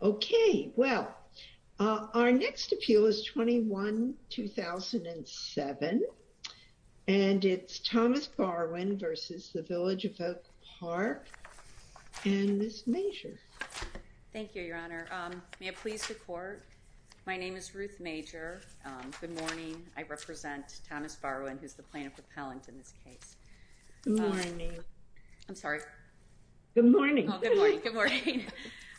Okay, well, our next appeal is 21-2007, and it's Thomas Barwin v. Village of Oak Park, and Ms. Major. Thank you, Your Honor. May I please report? My name is Ruth Major. Good morning. I represent Thomas Barwin, who's the plaintiff repellent in this case. Good morning. I'm sorry. Good morning. Good morning.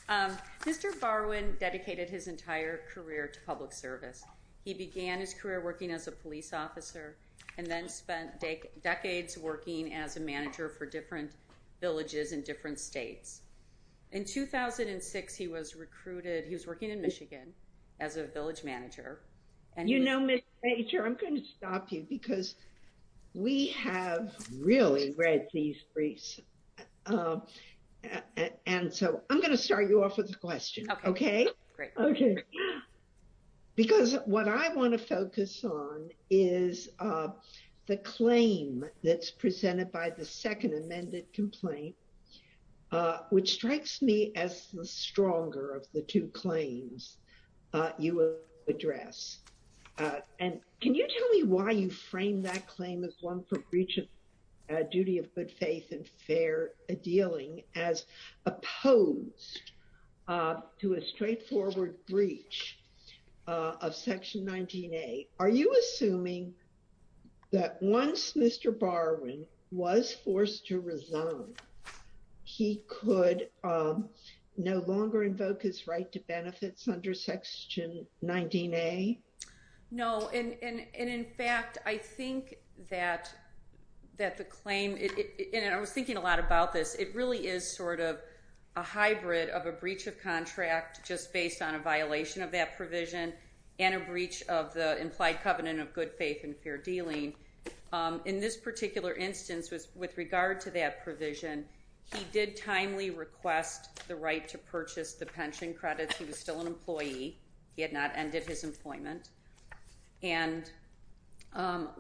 Mr. Barwin dedicated his entire career to public service. He began his career working as a police officer and then spent decades working as a manager for different villages in different states. In 2006, he was recruited. He was working in Michigan as a village manager. You know, Ms. Major, I'm going to stop you because we have really read these briefs, and so I'm going to start you off with a question, okay? Okay. Great. Okay. Because what I want to focus on is the claim that's presented by the second amended complaint, which strikes me as the stronger of the two claims you address. And can you tell me why you frame that claim as one for breach of duty of good faith and fair dealing as opposed to a straightforward breach of Section 19A? Are you assuming that once Mr. Barwin was forced to resign, he could no longer invoke his right to benefits under Section 19A? No. And in fact, I think that the claim, and I was thinking a lot about this, it really is sort of a hybrid of a breach of contract just based on a violation of that provision and a breach of the implied covenant of good faith and fair dealing. In this particular instance, with regard to that provision, he did timely request the right to purchase the pension credits. He was still an employee. He had not ended his employment. And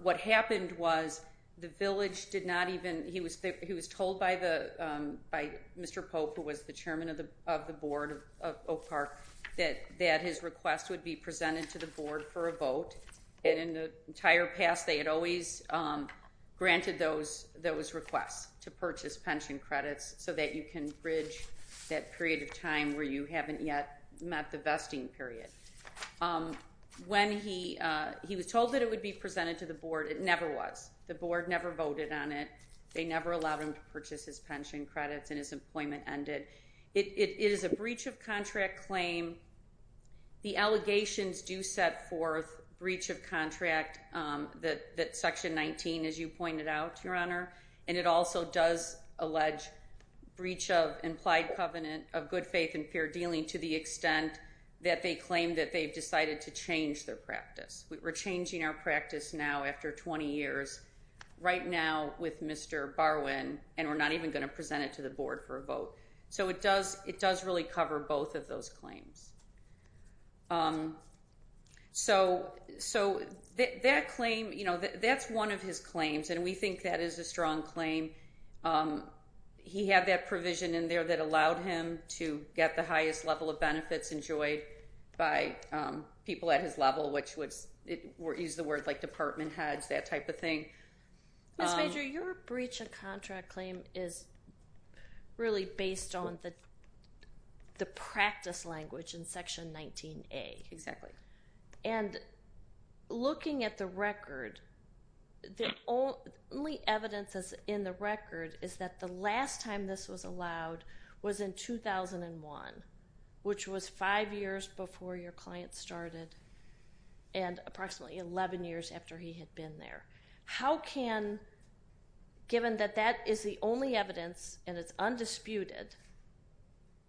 what happened was the village did not even, he was told by Mr. Pope, who was the chairman of the board of Oak Park, that his request would be presented to the board for a vote. And in the entire past, they had always granted those requests to purchase pension credits so that you can bridge that period of time where you haven't yet met the vesting period. When he was told that it would be presented to the board, it never was. The board never voted on it. They never allowed him to purchase his pension credits and his employment ended. It is a breach of contract claim. The allegations do set forth breach of contract that Section 19, as you pointed out, Your Honor, and it also does allege breach of implied covenant of good faith and fair dealing to the extent that they claim that they've decided to change their practice. We're changing our practice now after 20 years, right now with Mr. Barwin, and we're not even going to present it to the board for a vote. So it does really cover both of those claims. So that claim, that's one of his claims, and we think that is a strong claim. He had that provision in there that allowed him to get the highest level of benefits enjoyed by people at his level, which used the word like department heads, that type of thing. Ms. Major, your breach of contract claim is really based on the practice language in Section 19A. Exactly. And looking at the record, the only evidence in the record is that the last time this was allowed was in 2001, which was five years before your client started and approximately 11 years after he had been there. How can, given that that is the only evidence and it's undisputed,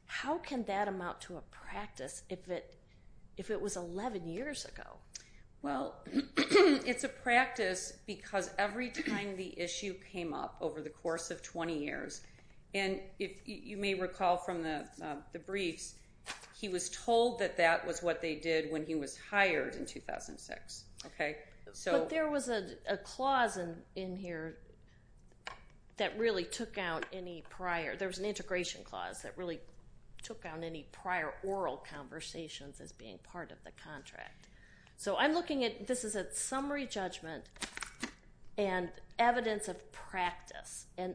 how can that amount to a practice if it was 11 years ago? Well, it's a practice because every time the issue came up over the course of 20 years, and if you may recall from the briefs, he was told that that was what they did when he was hired in 2006. Okay? But there was a clause in here that really took out any prior, there was an integration clause that really took out any prior oral conversations as being part of the contract. So I'm looking at, this is a summary judgment and evidence of practice. And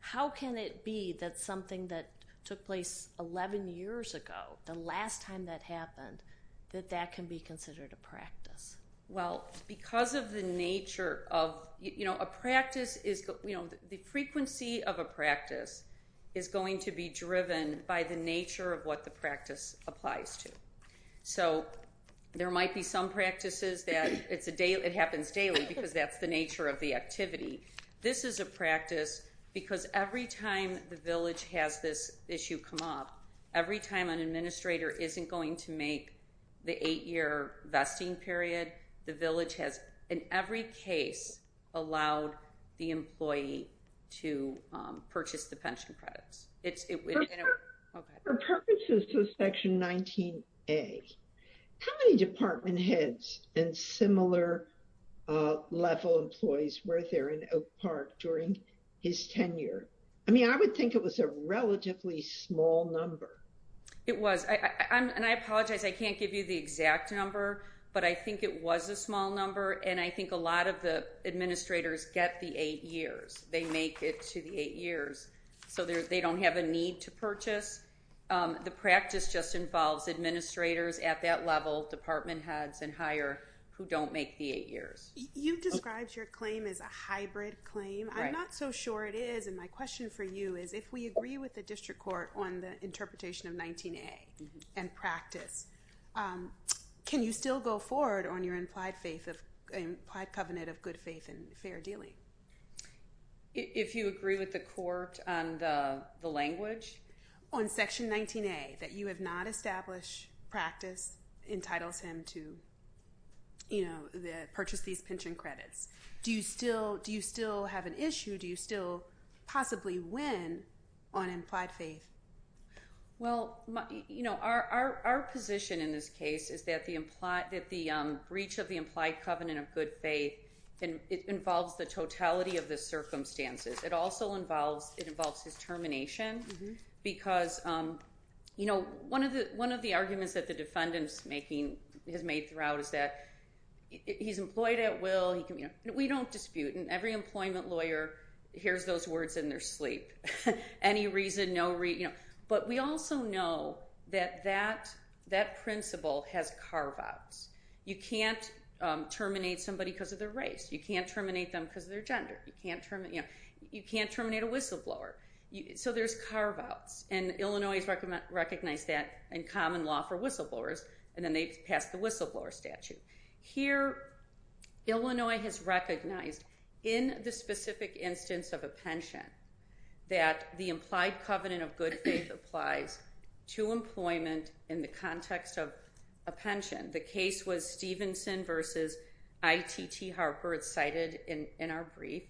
how can it be that something that took place 11 years ago, the last time that happened, that that can be considered a practice? Well, because of the nature of, you know, a practice is, you know, the frequency of a practice is going to be driven by the nature of what the practice applies to. So there might be some practices that it happens daily because that's the nature of the activity. This is a practice because every time the village has this issue come up, every time an administrator isn't going to make the eight-year vesting period, the village has, in every case, allowed the employee to purchase the pension credits. Okay. For purposes of Section 19A, how many department heads and similar level employees were there in Oak Park during his tenure? I mean, I would think it was a relatively small number. It was. And I apologize, I can't give you the exact number, but I think it was a small number. And I think a lot of the administrators get the eight years. They make it to the eight years. So they don't have a need to purchase. The practice just involves administrators at that level, department heads and higher, who don't make the eight years. You described your claim as a hybrid claim. I'm not so sure it is. And my question for you is, if we agree with the district court on the interpretation of 19A and practice, can you still go forward on your implied faith of implied covenant of good faith and fair dealing? If you agree with the court on the language? On Section 19A, that you have not established practice entitles him to purchase these pension credits. Do you still have an issue? Do you still possibly win on implied faith? Well, our position in this case is that the breach of the implied covenant of good faith involves the totality of the circumstances. It also involves his termination. Because one of the arguments that the defendant has made throughout is that he's employed at will. We don't dispute. And every employment lawyer hears those words in their sleep. Any reason, no reason. But we also know that that principle has carve-outs. You can't terminate somebody because of their race. You can't terminate them because of their gender. You can't terminate a whistleblower. So there's carve-outs. And Illinois has recognized that in common law for whistleblowers. And then they passed the whistleblower statute. Here, Illinois has recognized in the specific instance of a pension that the implied covenant of good faith applies to employment in the context of a pension. The case was Stevenson versus ITT Harper. It's cited in our brief.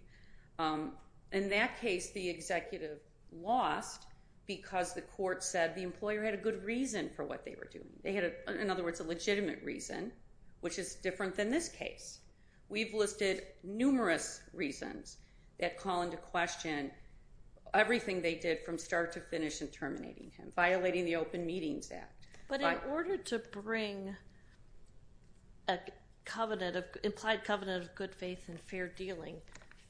In that case, the executive lost because the court said the employer had a good reason for what they were doing. They had, in other words, a legitimate reason, which is different than this case. We've listed numerous reasons that call into question everything they did from start to finish in terminating him, violating the Open Meetings Act. But in order to bring an implied covenant of good faith and fair dealing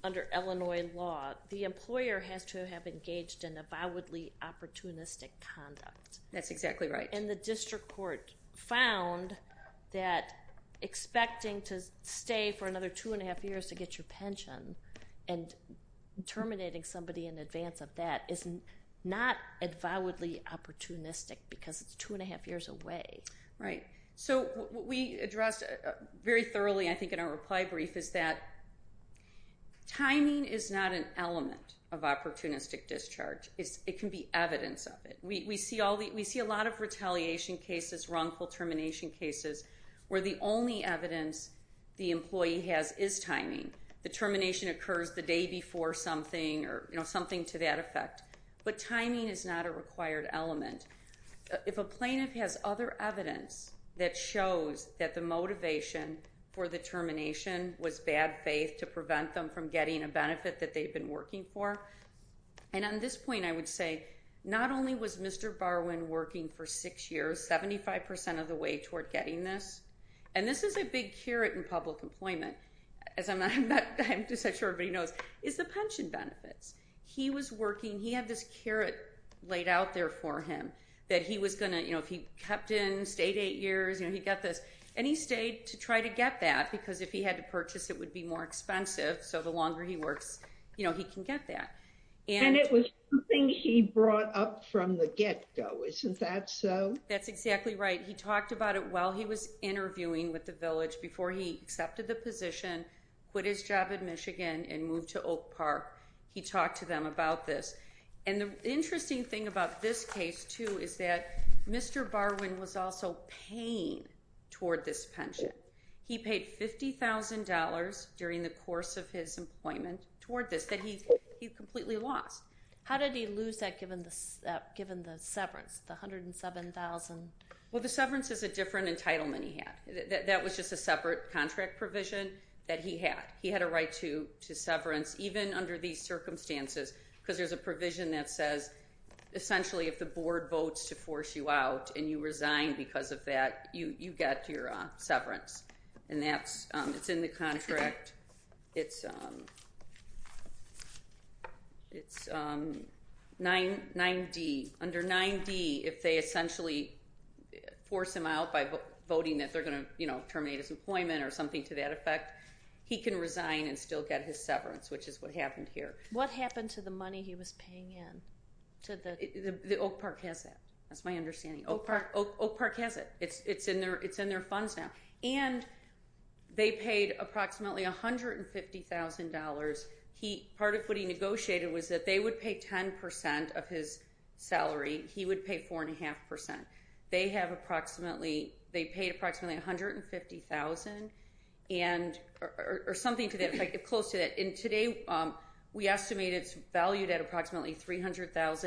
under Illinois law, the employer has to have engaged in avowedly opportunistic conduct. That's exactly right. And the district court found that expecting to stay for another two and a half years to get your pension and terminating somebody in advance of that is not avowedly opportunistic because it's two and a half years away. Right. So what we addressed very thoroughly, I think, in our reply brief is that timing is not an element of opportunistic discharge. It can be evidence of it. We see a lot of retaliation cases, wrongful termination cases, where the only evidence the employee has is timing. The termination occurs the day before something or something to that effect. But timing is not a required element. If a plaintiff has other evidence that shows that the motivation for the termination was bad faith to prevent them from getting a benefit that they've been working for, and on this point I would say not only was Mr. Barwin working for six years, 75 percent of the way toward getting this, and this is a big carrot in public employment, as I'm not sure everybody knows, is the pension benefits. He was working, he had this carrot laid out there for him that he was going to, you know, if he kept in, stayed eight years, you know, he got this, and he stayed to try to get that because if he had to purchase it would be more expensive. So the longer he works, you know, he can get that. And it was something he brought up from the get-go. Isn't that so? That's exactly right. He talked about it while he was interviewing with the village before he accepted the position, quit his job in Michigan, and moved to Oak Park. He talked to them about this. And the interesting thing about this case too is that Mr. Barwin was also paying toward this pension. He paid $50,000 during the course of his employment toward this that he completely lost. How did he lose that given the severance, the $107,000? Well, the severance is a different entitlement he had. That was just a separate contract provision that he had. He had a right to severance even under these circumstances because there's a provision that says essentially if the board votes to force you out and you resign because of that, you get your severance. And that's in the contract. It's 9D. Under 9D, if they essentially force him out by voting that they're going to, you know, terminate his employment or something to that effect, he can resign and still get his severance, which is what happened here. What happened to the money he was paying in? The Oak Park has that. That's my understanding. Oak Park has it. It's in their funds now. And they paid approximately $150,000. Part of what he negotiated was that they would pay 10% of his salary. He would pay 4.5%. They paid approximately $150,000 or something to that effect, close to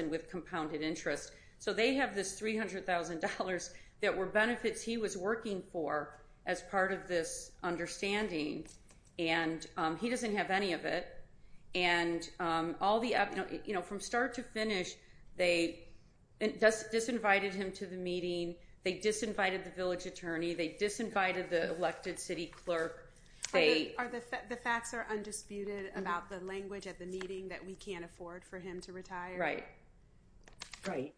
with compounded interest. So they have this $300,000 that were benefits he was working for as part of this understanding. And he doesn't have any of it. And from start to finish, they disinvited him to the meeting. They disinvited the village attorney. They disinvited the elected city clerk. The facts are undisputed about the language at the meeting that we can't for him to retire. Right. Right.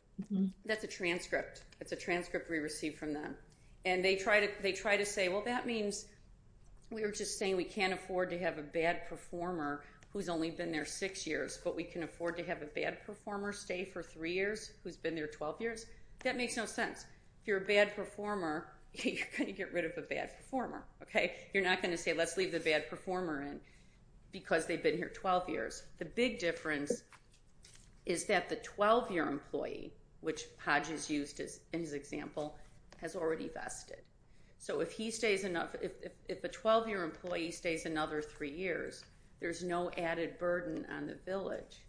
That's a transcript. That's a transcript we received from them. And they try to say, well, that means we were just saying we can't afford to have a bad performer who's only been there six years, but we can afford to have a bad performer stay for three years who's been there 12 years. That makes no sense. If you're a bad performer, you're going to get rid of a bad performer, okay? You're not going to say, let's leave the bad performer in because they've been here 12 years. The big difference is that the 12-year employee, which Hodges used in his example, has already vested. So if a 12-year employee stays another three years, there's no added burden on the village.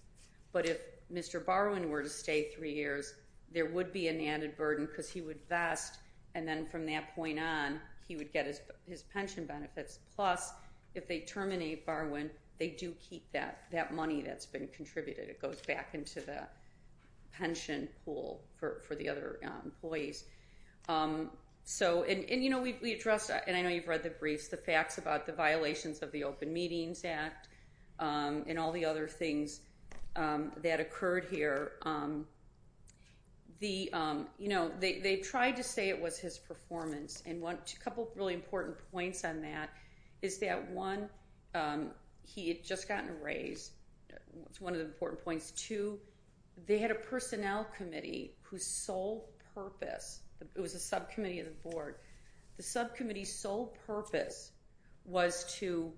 But if Mr. Barwin were to stay three years, there would be an added burden because he would vest. And then from that point on, he would get his pension benefits. Plus, if they terminate Barwin, they do keep that money that's been contributed. It goes back into the pension pool for the other employees. And I know you've read the briefs, the facts about the violations of the Open Meetings Act and all the other things that occurred here. They tried to say it was his performance. And a couple of really important points on that is that, one, he had just gotten a raise. That's one of the important points. Two, they had a personnel committee whose sole purpose, it was a subcommittee of the board, the subcommittee's sole purpose was to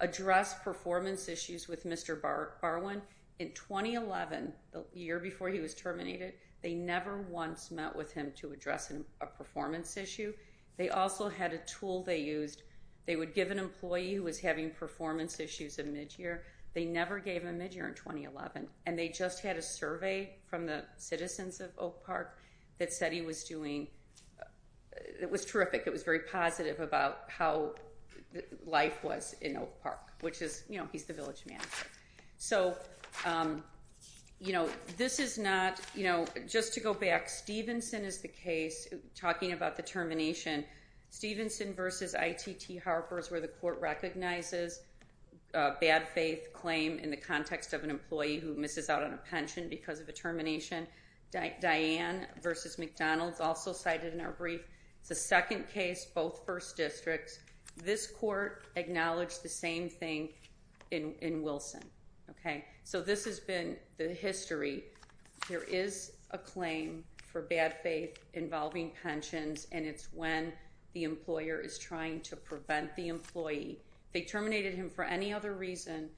address performance issues with Mr. Barwin. In 2011, the year before he was terminated, they never once met with him to address a performance issue. They also had a tool they used. They would give an employee who was having performance issues a mid-year. They never gave a mid-year in 2011. And they just had a survey from the citizens of Oak Park. It was terrific. It was very positive about how life was in Oak Park, which is, you know, he's the village manager. So, you know, this is not, you know, just to go back, Stevenson is the case. Talking about the termination, Stevenson versus ITT Harper is where the court recognizes a bad faith claim in the context of an employee who misses out on a second case, both first districts. This court acknowledged the same thing in Wilson, okay? So this has been the history. There is a claim for bad faith involving pensions, and it's when the employer is trying to prevent the employee. They terminated him for any other reason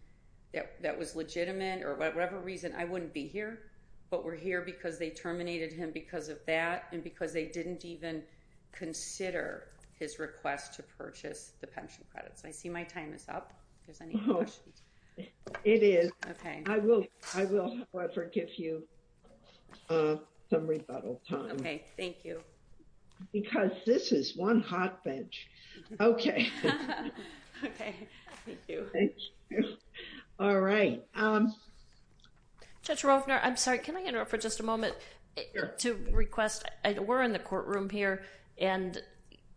that was legitimate or whatever reason. I wouldn't be here, but we're here because they terminated him because of that and because they didn't even consider his request to purchase the pension credits. I see my time is up. If there's any questions. It is. Okay. I will, however, give you some rebuttal time. Okay. Thank you. Because this is one hot bench. Okay. Okay. Thank you. Thank you. All right. Judge Rofner, I'm sorry. Can I interrupt for just a request? We're in the courtroom here, and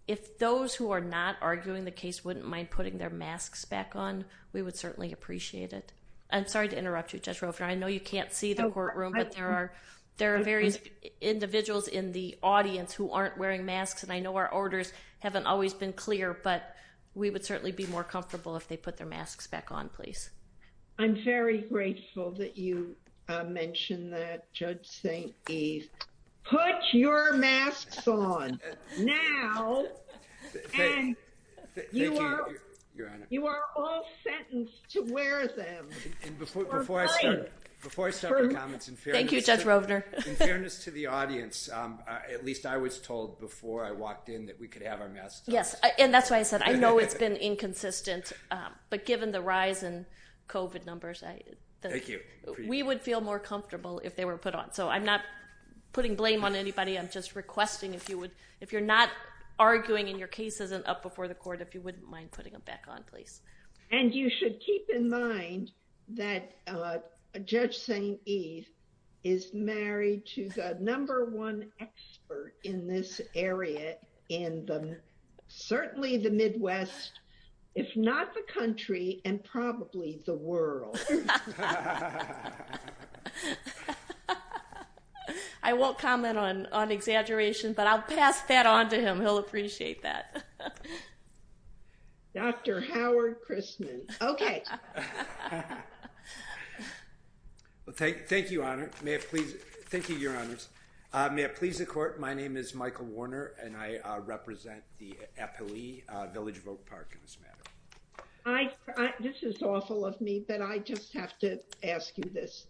if those who are not arguing the case wouldn't mind putting their masks back on, we would certainly appreciate it. I'm sorry to interrupt you, Judge Rofner. I know you can't see the courtroom, but there are various individuals in the audience who aren't wearing masks, and I know our orders haven't always been clear, but we would certainly be more comfortable if they put their masks back on, please. I'm very grateful that you mentioned that, Judge St. Eve. Put your masks on now, and you are all sentenced to wear them. Thank you, Judge Rofner. In fairness to the audience, at least I was told before I walked in that we could have our masks on. We would feel more comfortable if they were put on, so I'm not putting blame on anybody. I'm just requesting if you're not arguing and your case isn't up before the court, if you wouldn't mind putting them back on, please. And you should keep in mind that Judge St. Eve is married to the world. I won't comment on exaggeration, but I'll pass that on to him. He'll appreciate that. Dr. Howard Christman. Okay. Thank you, Your Honors. May it please the court, my name is Michael Warner, and I represent the Department of Health and Human Services. I have a question for you, Judge St. Eve. I'm sorry to interrupt you, but I just have to ask you this.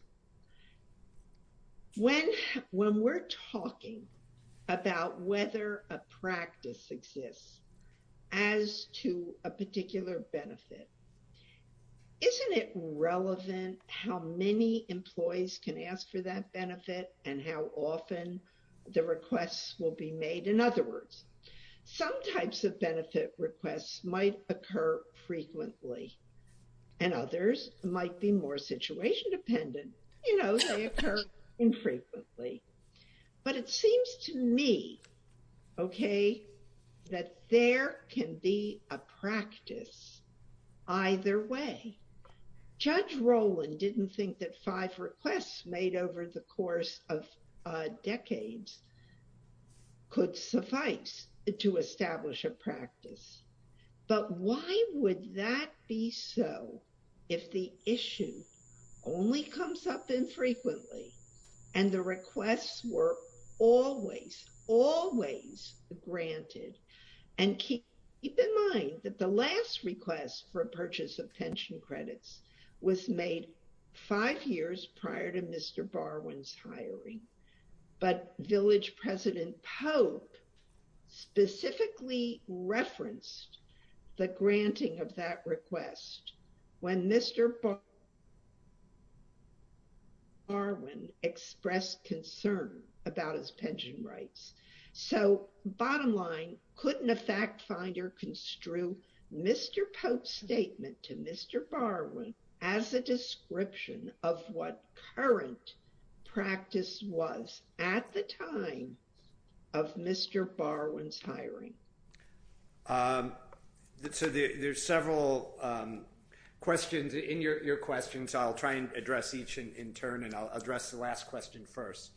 When we're talking about whether a practice exists as to a particular benefit, isn't it relevant how many employees can ask for a practice? I mean, employers might be more situation-dependent. You know, they occur infrequently. But it seems to me, okay, that there can be a practice either way. Judge Roland didn't think that five requests made over the course of decades could suffice to establish a practice. But why would that be so if the issue only comes up infrequently and the requests were always, always granted? And keep in mind that the last request for a purchase of pension credits was made five years prior to Mr. Barwin's hiring. But Village President Pope specifically referenced the granting of that request when Mr. Barwin expressed concern about his pension rights. So bottom line, couldn't a fact finder construe Mr. Pope's statement to Mr. Barwin as a description of what current practice was at the time of Mr. Barwin's hiring? So there's several questions in your questions. I'll try and address each in turn and I'll address the last question first.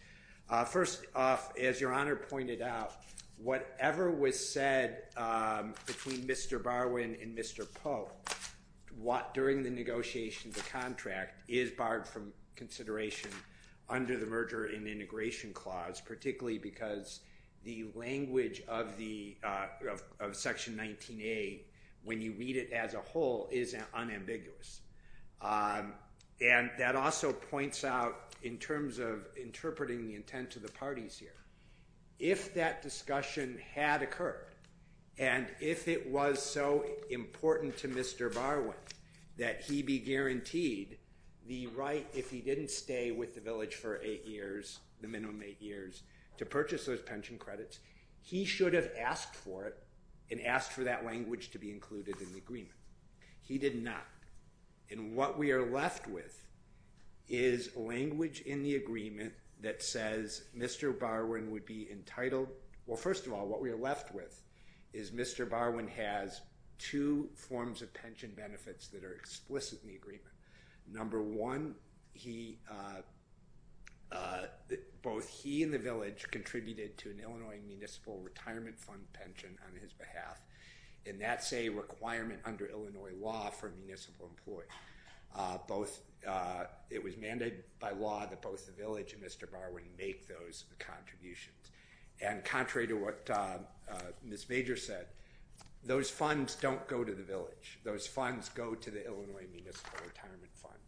First off, as Your Honor pointed out, whatever was said between Mr. Barwin and Mr. Pope during the negotiation of the contract is barred from consideration under the merger and integration clause, particularly because the language of Section 19A, when you read it as a whole, is unambiguous. And that also points out in terms of interpreting the intent of the parties here, if that discussion had occurred and if it was so important to Mr. Barwin that he be guaranteed the right, if he didn't stay with the Village for eight years, the minimum eight years, to purchase those pension credits, he should have asked for it and asked for that language to be included in the agreement. He did not. And what we are left with is language in the agreement that says Mr. Barwin would be entitled, well, first of all, what we are left with is Mr. Barwin has two forms of pension benefits that are explicit in the agreement. Number one, both he and the Village contributed to an Illinois Municipal Retirement Fund pension on his behalf, and that's a requirement under Illinois law for a municipal employee. It was mandated by law that both the Village and Mr. Barwin make those contributions. And contrary to what Ms. Major said, those funds don't go to the Village. Those funds go to the Illinois Municipal Retirement Fund.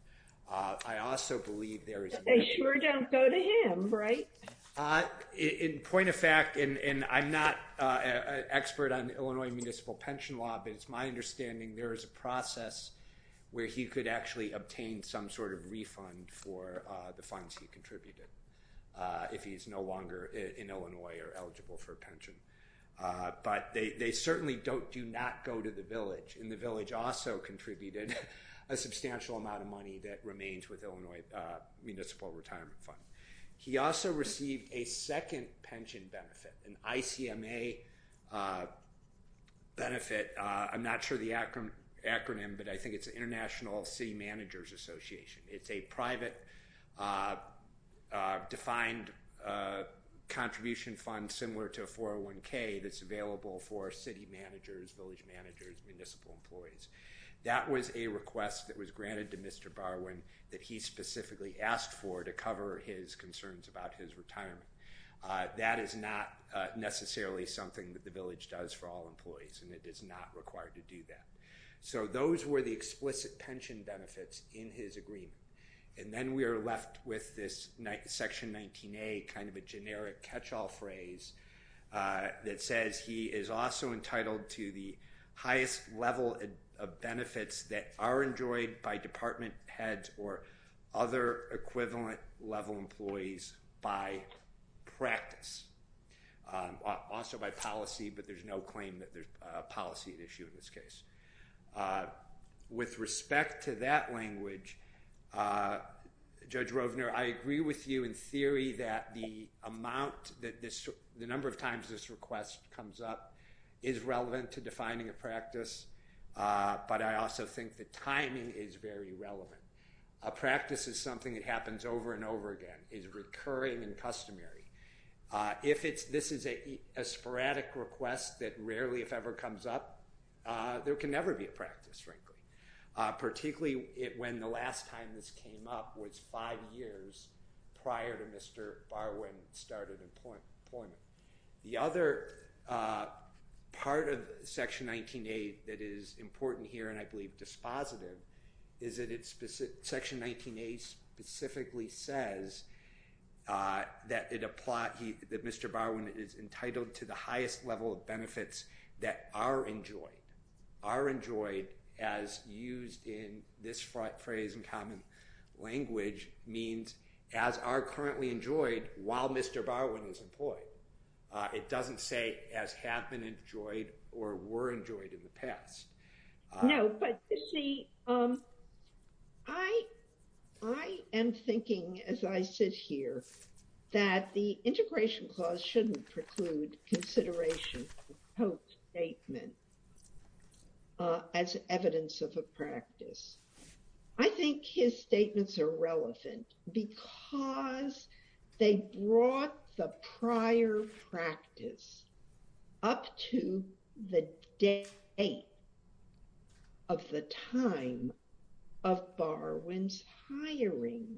I also believe there is... They sure don't go to him, right? In point of fact, and I'm not an expert on Illinois Municipal Pension Law, but it's my understanding there is a process where he could actually obtain some sort of refund for the funds he contributed if he's no longer in Illinois or eligible for pension. But they certainly do not go to the Village. And the Village also contributed a substantial amount of money that remains with Illinois Municipal Retirement Fund. He also received a second pension benefit, an ICMA benefit. I'm not sure the acronym, but I think it's International City Managers Association. It's a private defined contribution fund similar to a 401k that's available for city managers, village managers, municipal employees. That was a request that was granted to Mr. Barwin that he specifically asked for to cover his concerns about his retirement. That is not necessarily something that the Village does for all employees, and it is not required to do that. So those were the explicit pension benefits in his agreement. And then we are left with this Section 19A, kind of a generic catch-all phrase that says he is also entitled to the highest level of benefits that are enjoyed by department heads or other equivalent level employees by practice. Also by policy, but there's no claim that there's a policy issue in this case. With respect to that language, Judge Rovner, I agree with you in theory that the amount that this, the number of times this request comes up is relevant to defining a practice, but I also think the timing is very relevant. A practice is something that happens over and over again, is recurring and customary. If it's, this is a sporadic request that rarely if ever comes up, there can never be a practice, frankly. Particularly when the last time this came up was five years prior to Mr. Barwin started employment. The other part of Section 19A that is important here, and I believe dispositive, is that it's, Section 19A specifically says that it applies, that Mr. Barwin is entitled to the highest level of benefits that are enjoyed are enjoyed as used in this phrase in common language means as are currently enjoyed while Mr. Barwin is employed. It doesn't say as have been enjoyed or were enjoyed in the past. No, but you see, I am thinking as I sit here that the integration clause shouldn't preclude consideration of Pope's statement as evidence of a practice. I think his statements are relevant because they brought the prior practice up to the date of the time of Barwin's hiring.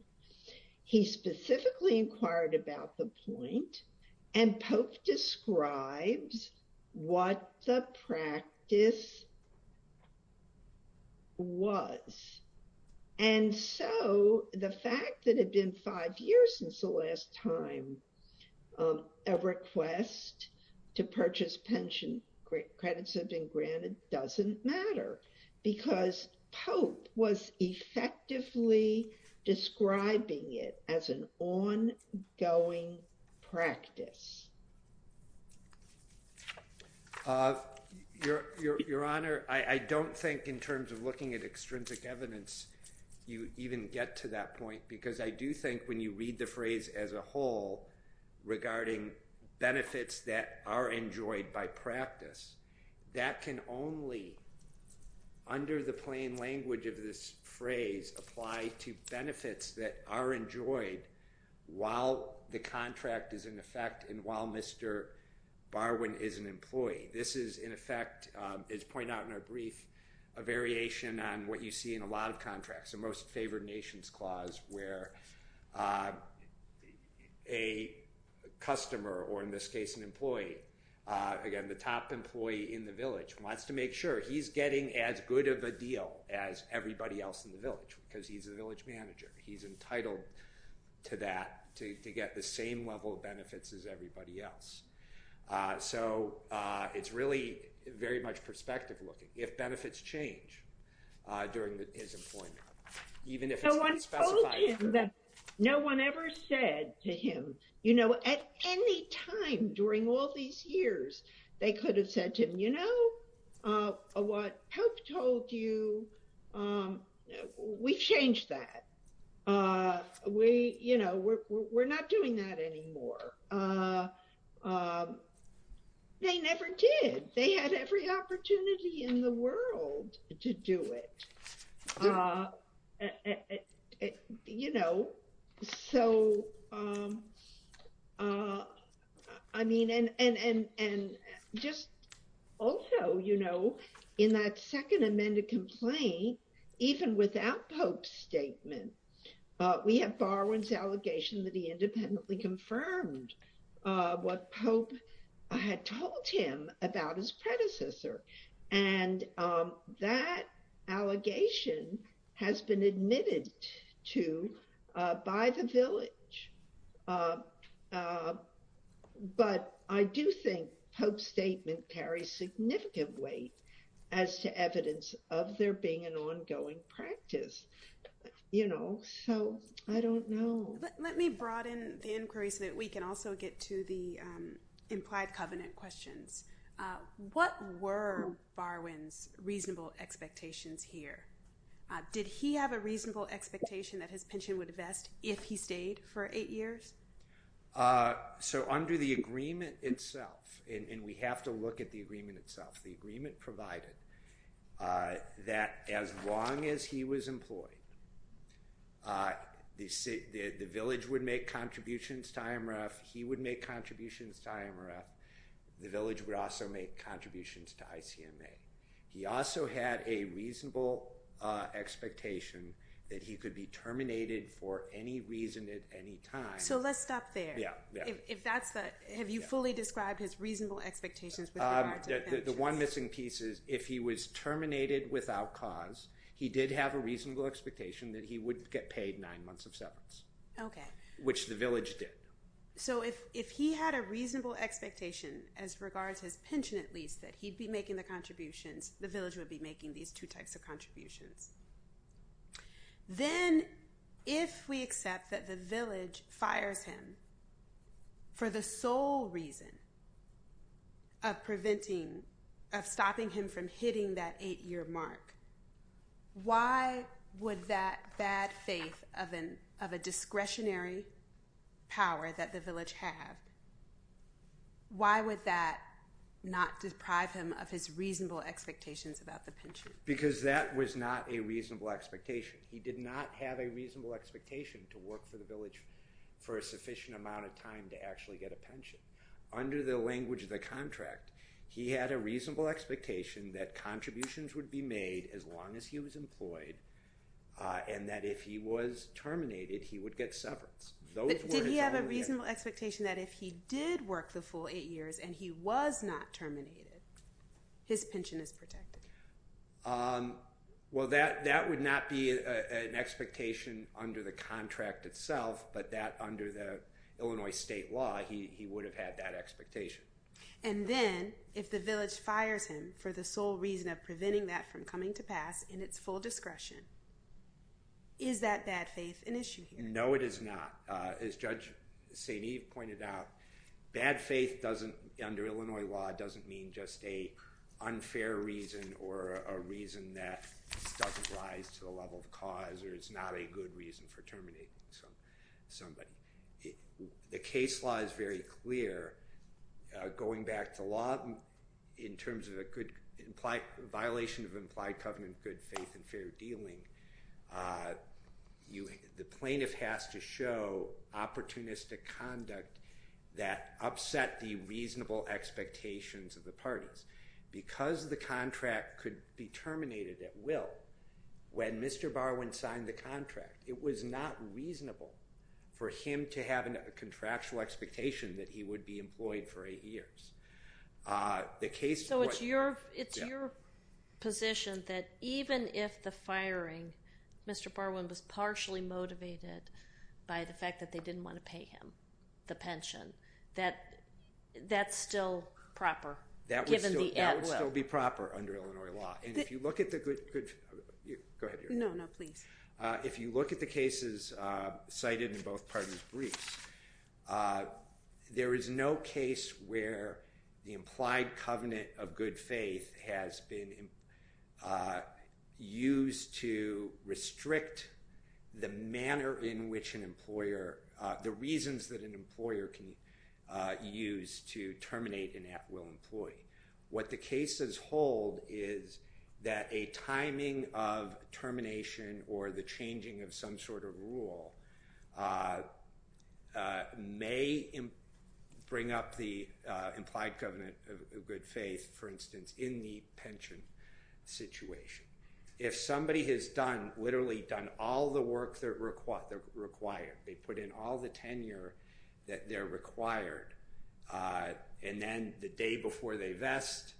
He specifically inquired about the point and Pope describes what the practice was. And so the fact that had been five years since the last time a request to purchase pension credits have been granted doesn't matter because Pope was effectively describing it as an ongoing practice. Your Honor, I don't think in terms of looking at extrinsic evidence you even get to that point because I do think when you read the phrase as a whole regarding benefits that are enjoyed by to benefits that are enjoyed while the contract is in effect and while Mr. Barwin is an employee, this is in effect, as pointed out in our brief, a variation on what you see in a lot of contracts, the most favored nations clause where a customer or in this case an employee, again the top employee in the village, wants to make sure he's getting as good of a deal as everybody else in the village because he's a village manager. He's entitled to that to get the same level of benefits as everybody else. So it's really very much perspective looking. If benefits change during his employment, even if it's not specified. No one ever said to him, you know, at any time during all these years they could have said to him, you know, what Pope told you, we've changed that. We're not doing that anymore. They never did. They had every opportunity in the world to do it. And just also, you know, in that second amended complaint, even without Pope's statement, we have Barwin's allegation that he independently confirmed what Pope had told him about his has been admitted to by the village. But I do think Pope's statement carries significant weight as to evidence of there being an ongoing practice. You know, so I don't know. Let me broaden the inquiry so that we can also get to the implied covenant questions. What were Barwin's reasonable expectations here? Did he have a reasonable expectation that his pension would invest if he stayed for eight years? So under the agreement itself, and we have to look at the agreement itself, the agreement provided that as long as he was employed, the village would make contributions to IMRF, he would make contributions to IMRF, the village would also make contributions to ICMA. He also had a reasonable expectation that he could be terminated for any reason at any time. So let's stop there. Have you fully described his reasonable expectations? The one missing piece is if he was terminated without cause, he did have a reasonable expectation that he wouldn't get paid nine months of severance, which the village did. So if he had a reasonable expectation as regards his pension, at least, that he'd be making the contributions, the village would be making these two types of contributions. Then if we accept that the village fires him for the sole reason of preventing, of stopping him from hitting that eight-year mark, why would that bad faith of a discretionary power that the village had, why would that not deprive him of his reasonable expectations about the pension? Because that was not a reasonable expectation. He did not have a reasonable expectation to work for the village for a sufficient amount of time to actually get a pension. Under the language of the contract, he had a reasonable expectation that contributions would be made as long as he was employed, and that if he was terminated, he would get severance. But did he have a reasonable expectation that if he did work the full eight years and he was not terminated, his pension is protected? Well, that would not be an expectation under the contract itself, but that under the Illinois state law, he would have had that expectation. And then if the village fires him for the sole reason of preventing that from coming to pass in its full discretion, is that bad faith an issue here? No, it is not. As Judge St. Eve pointed out, bad faith under Illinois law doesn't mean just an unfair reason or a reason that doesn't rise to the level of cause or is not a good reason for terminating somebody. The case law is very clear. Going back to law, in terms of a violation of implied covenant good faith and fair dealing, the plaintiff has to show opportunistic conduct that upset the reasonable expectations of the parties. Because the contract could be terminated at will, when Mr. Barwin signed the contract, it was not reasonable for him to have a contractual expectation that he would be employed for eight years. So it's your position that even if the firing, Mr. Barwin was That would still be proper under Illinois law. And if you look at the cases cited in both parties' briefs, there is no case where the implied covenant of good faith has been used to restrict the manner in which an employer, the reasons that an employer can use to terminate an at will employee. What the cases hold is that a timing of termination or the changing of some sort of rule may bring up the implied covenant of good faith, for instance, in the pension situation. If somebody has done, literally done, all the work that they're required, they put in all the tenure that they're required, and then the day before they vest,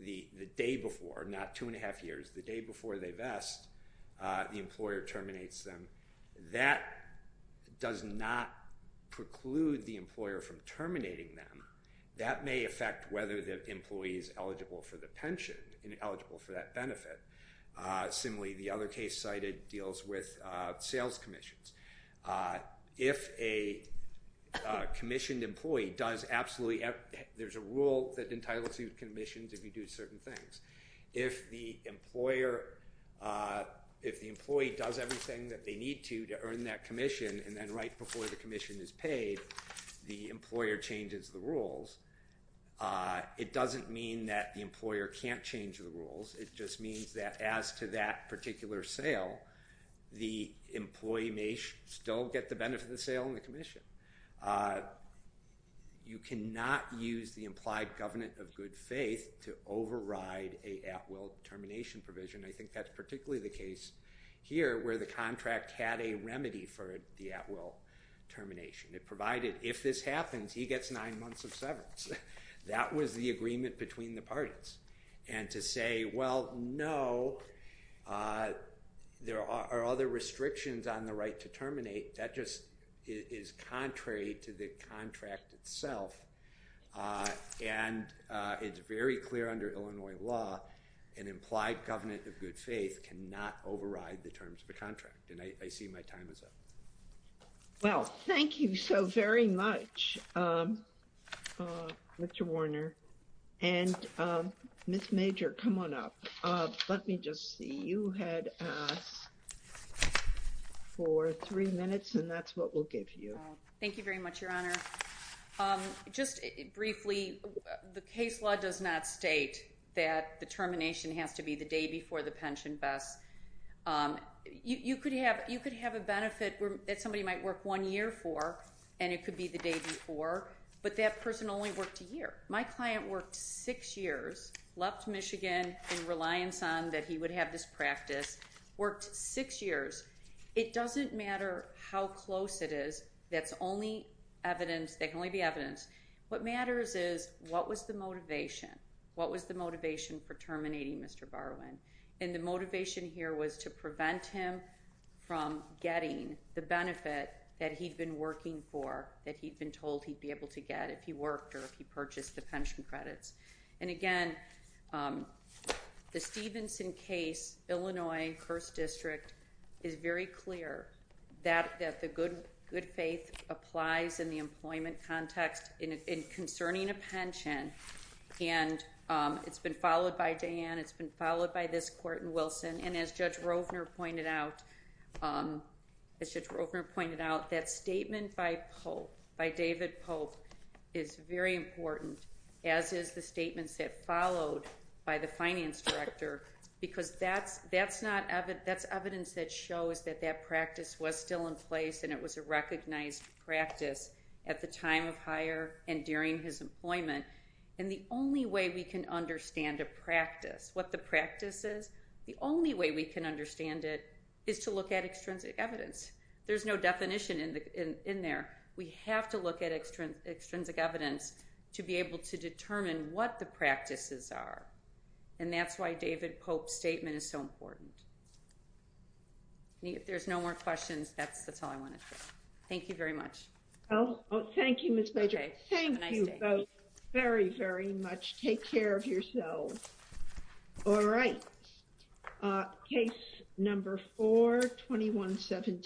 the day before, not two and a half years, the day before they vest, the employer terminates them, that does not preclude the employer from terminating them. That may affect whether the employee is eligible for the pension and eligible for that benefit. Similarly, the other case cited deals with sales commissions. If a commissioned employee does absolutely, there's a rule that entitles you to commissions if you do certain things. If the employer, if the employee does everything that they need to to earn that commission, and then right before the commission is paid, the employer changes the rules, it doesn't mean that the employer can't change the rules, it just means that as to that particular sale, the employee may still get the benefit of the sale and the commission. You cannot use the implied covenant of good faith to override a at will termination provision. I think that's particularly the case here where the contract had a remedy for the at will termination. It provided if this happens, he gets nine months of severance. That was the agreement between the parties. And to say, well, no, there are other restrictions on the right to terminate, that just is contrary to the contract itself. And it's very clear under Illinois law, an implied covenant of good faith cannot override the terms of the contract. And I see my time is up. Well, thank you so very much, Mr. Warner. And Ms. Major, come on up. Let me just see. You had us for three minutes, and that's what we'll give you. Thank you very much, Your Honor. Just briefly, the case law does not state that the termination has to be the day before the pension best. You could have a benefit that somebody might work one year for, and it could be the day before. But that person only worked a year. My client worked six years, left Michigan in reliance on that he would have this practice, worked six years. It doesn't matter how close it is. That's only evidence, that can only be evidence. What matters is, what was the motivation? What was the motivation for terminating Mr. Barwin? And the motivation here was to prevent him from getting the benefit that he'd been working for, that he'd been told he'd be able to get if he worked or if he purchased the pension credits. And again, the Stevenson case, Illinois, first district, is very clear that the good faith applies in the employment context concerning a pension. And it's been followed by Diane, it's been followed by this court in Wilson. And as Judge Rovner pointed out, that statement by Pope, by David Pope, is very important, as is the statements that followed by the finance director, because that's evidence that shows that that practice was still in place and it was a at the time of hire and during his employment. And the only way we can understand a practice, what the practice is, the only way we can understand it is to look at extrinsic evidence. There's no definition in there. We have to look at extrinsic evidence to be able to determine what the practices are. And that's why David Pope's statement is so important. If there's no more questions, that's all I wanted to say. Thank you very much. Thank you, Ms. Major. Thank you both very, very much. Take care of yourselves. All right. Case number 4-2117.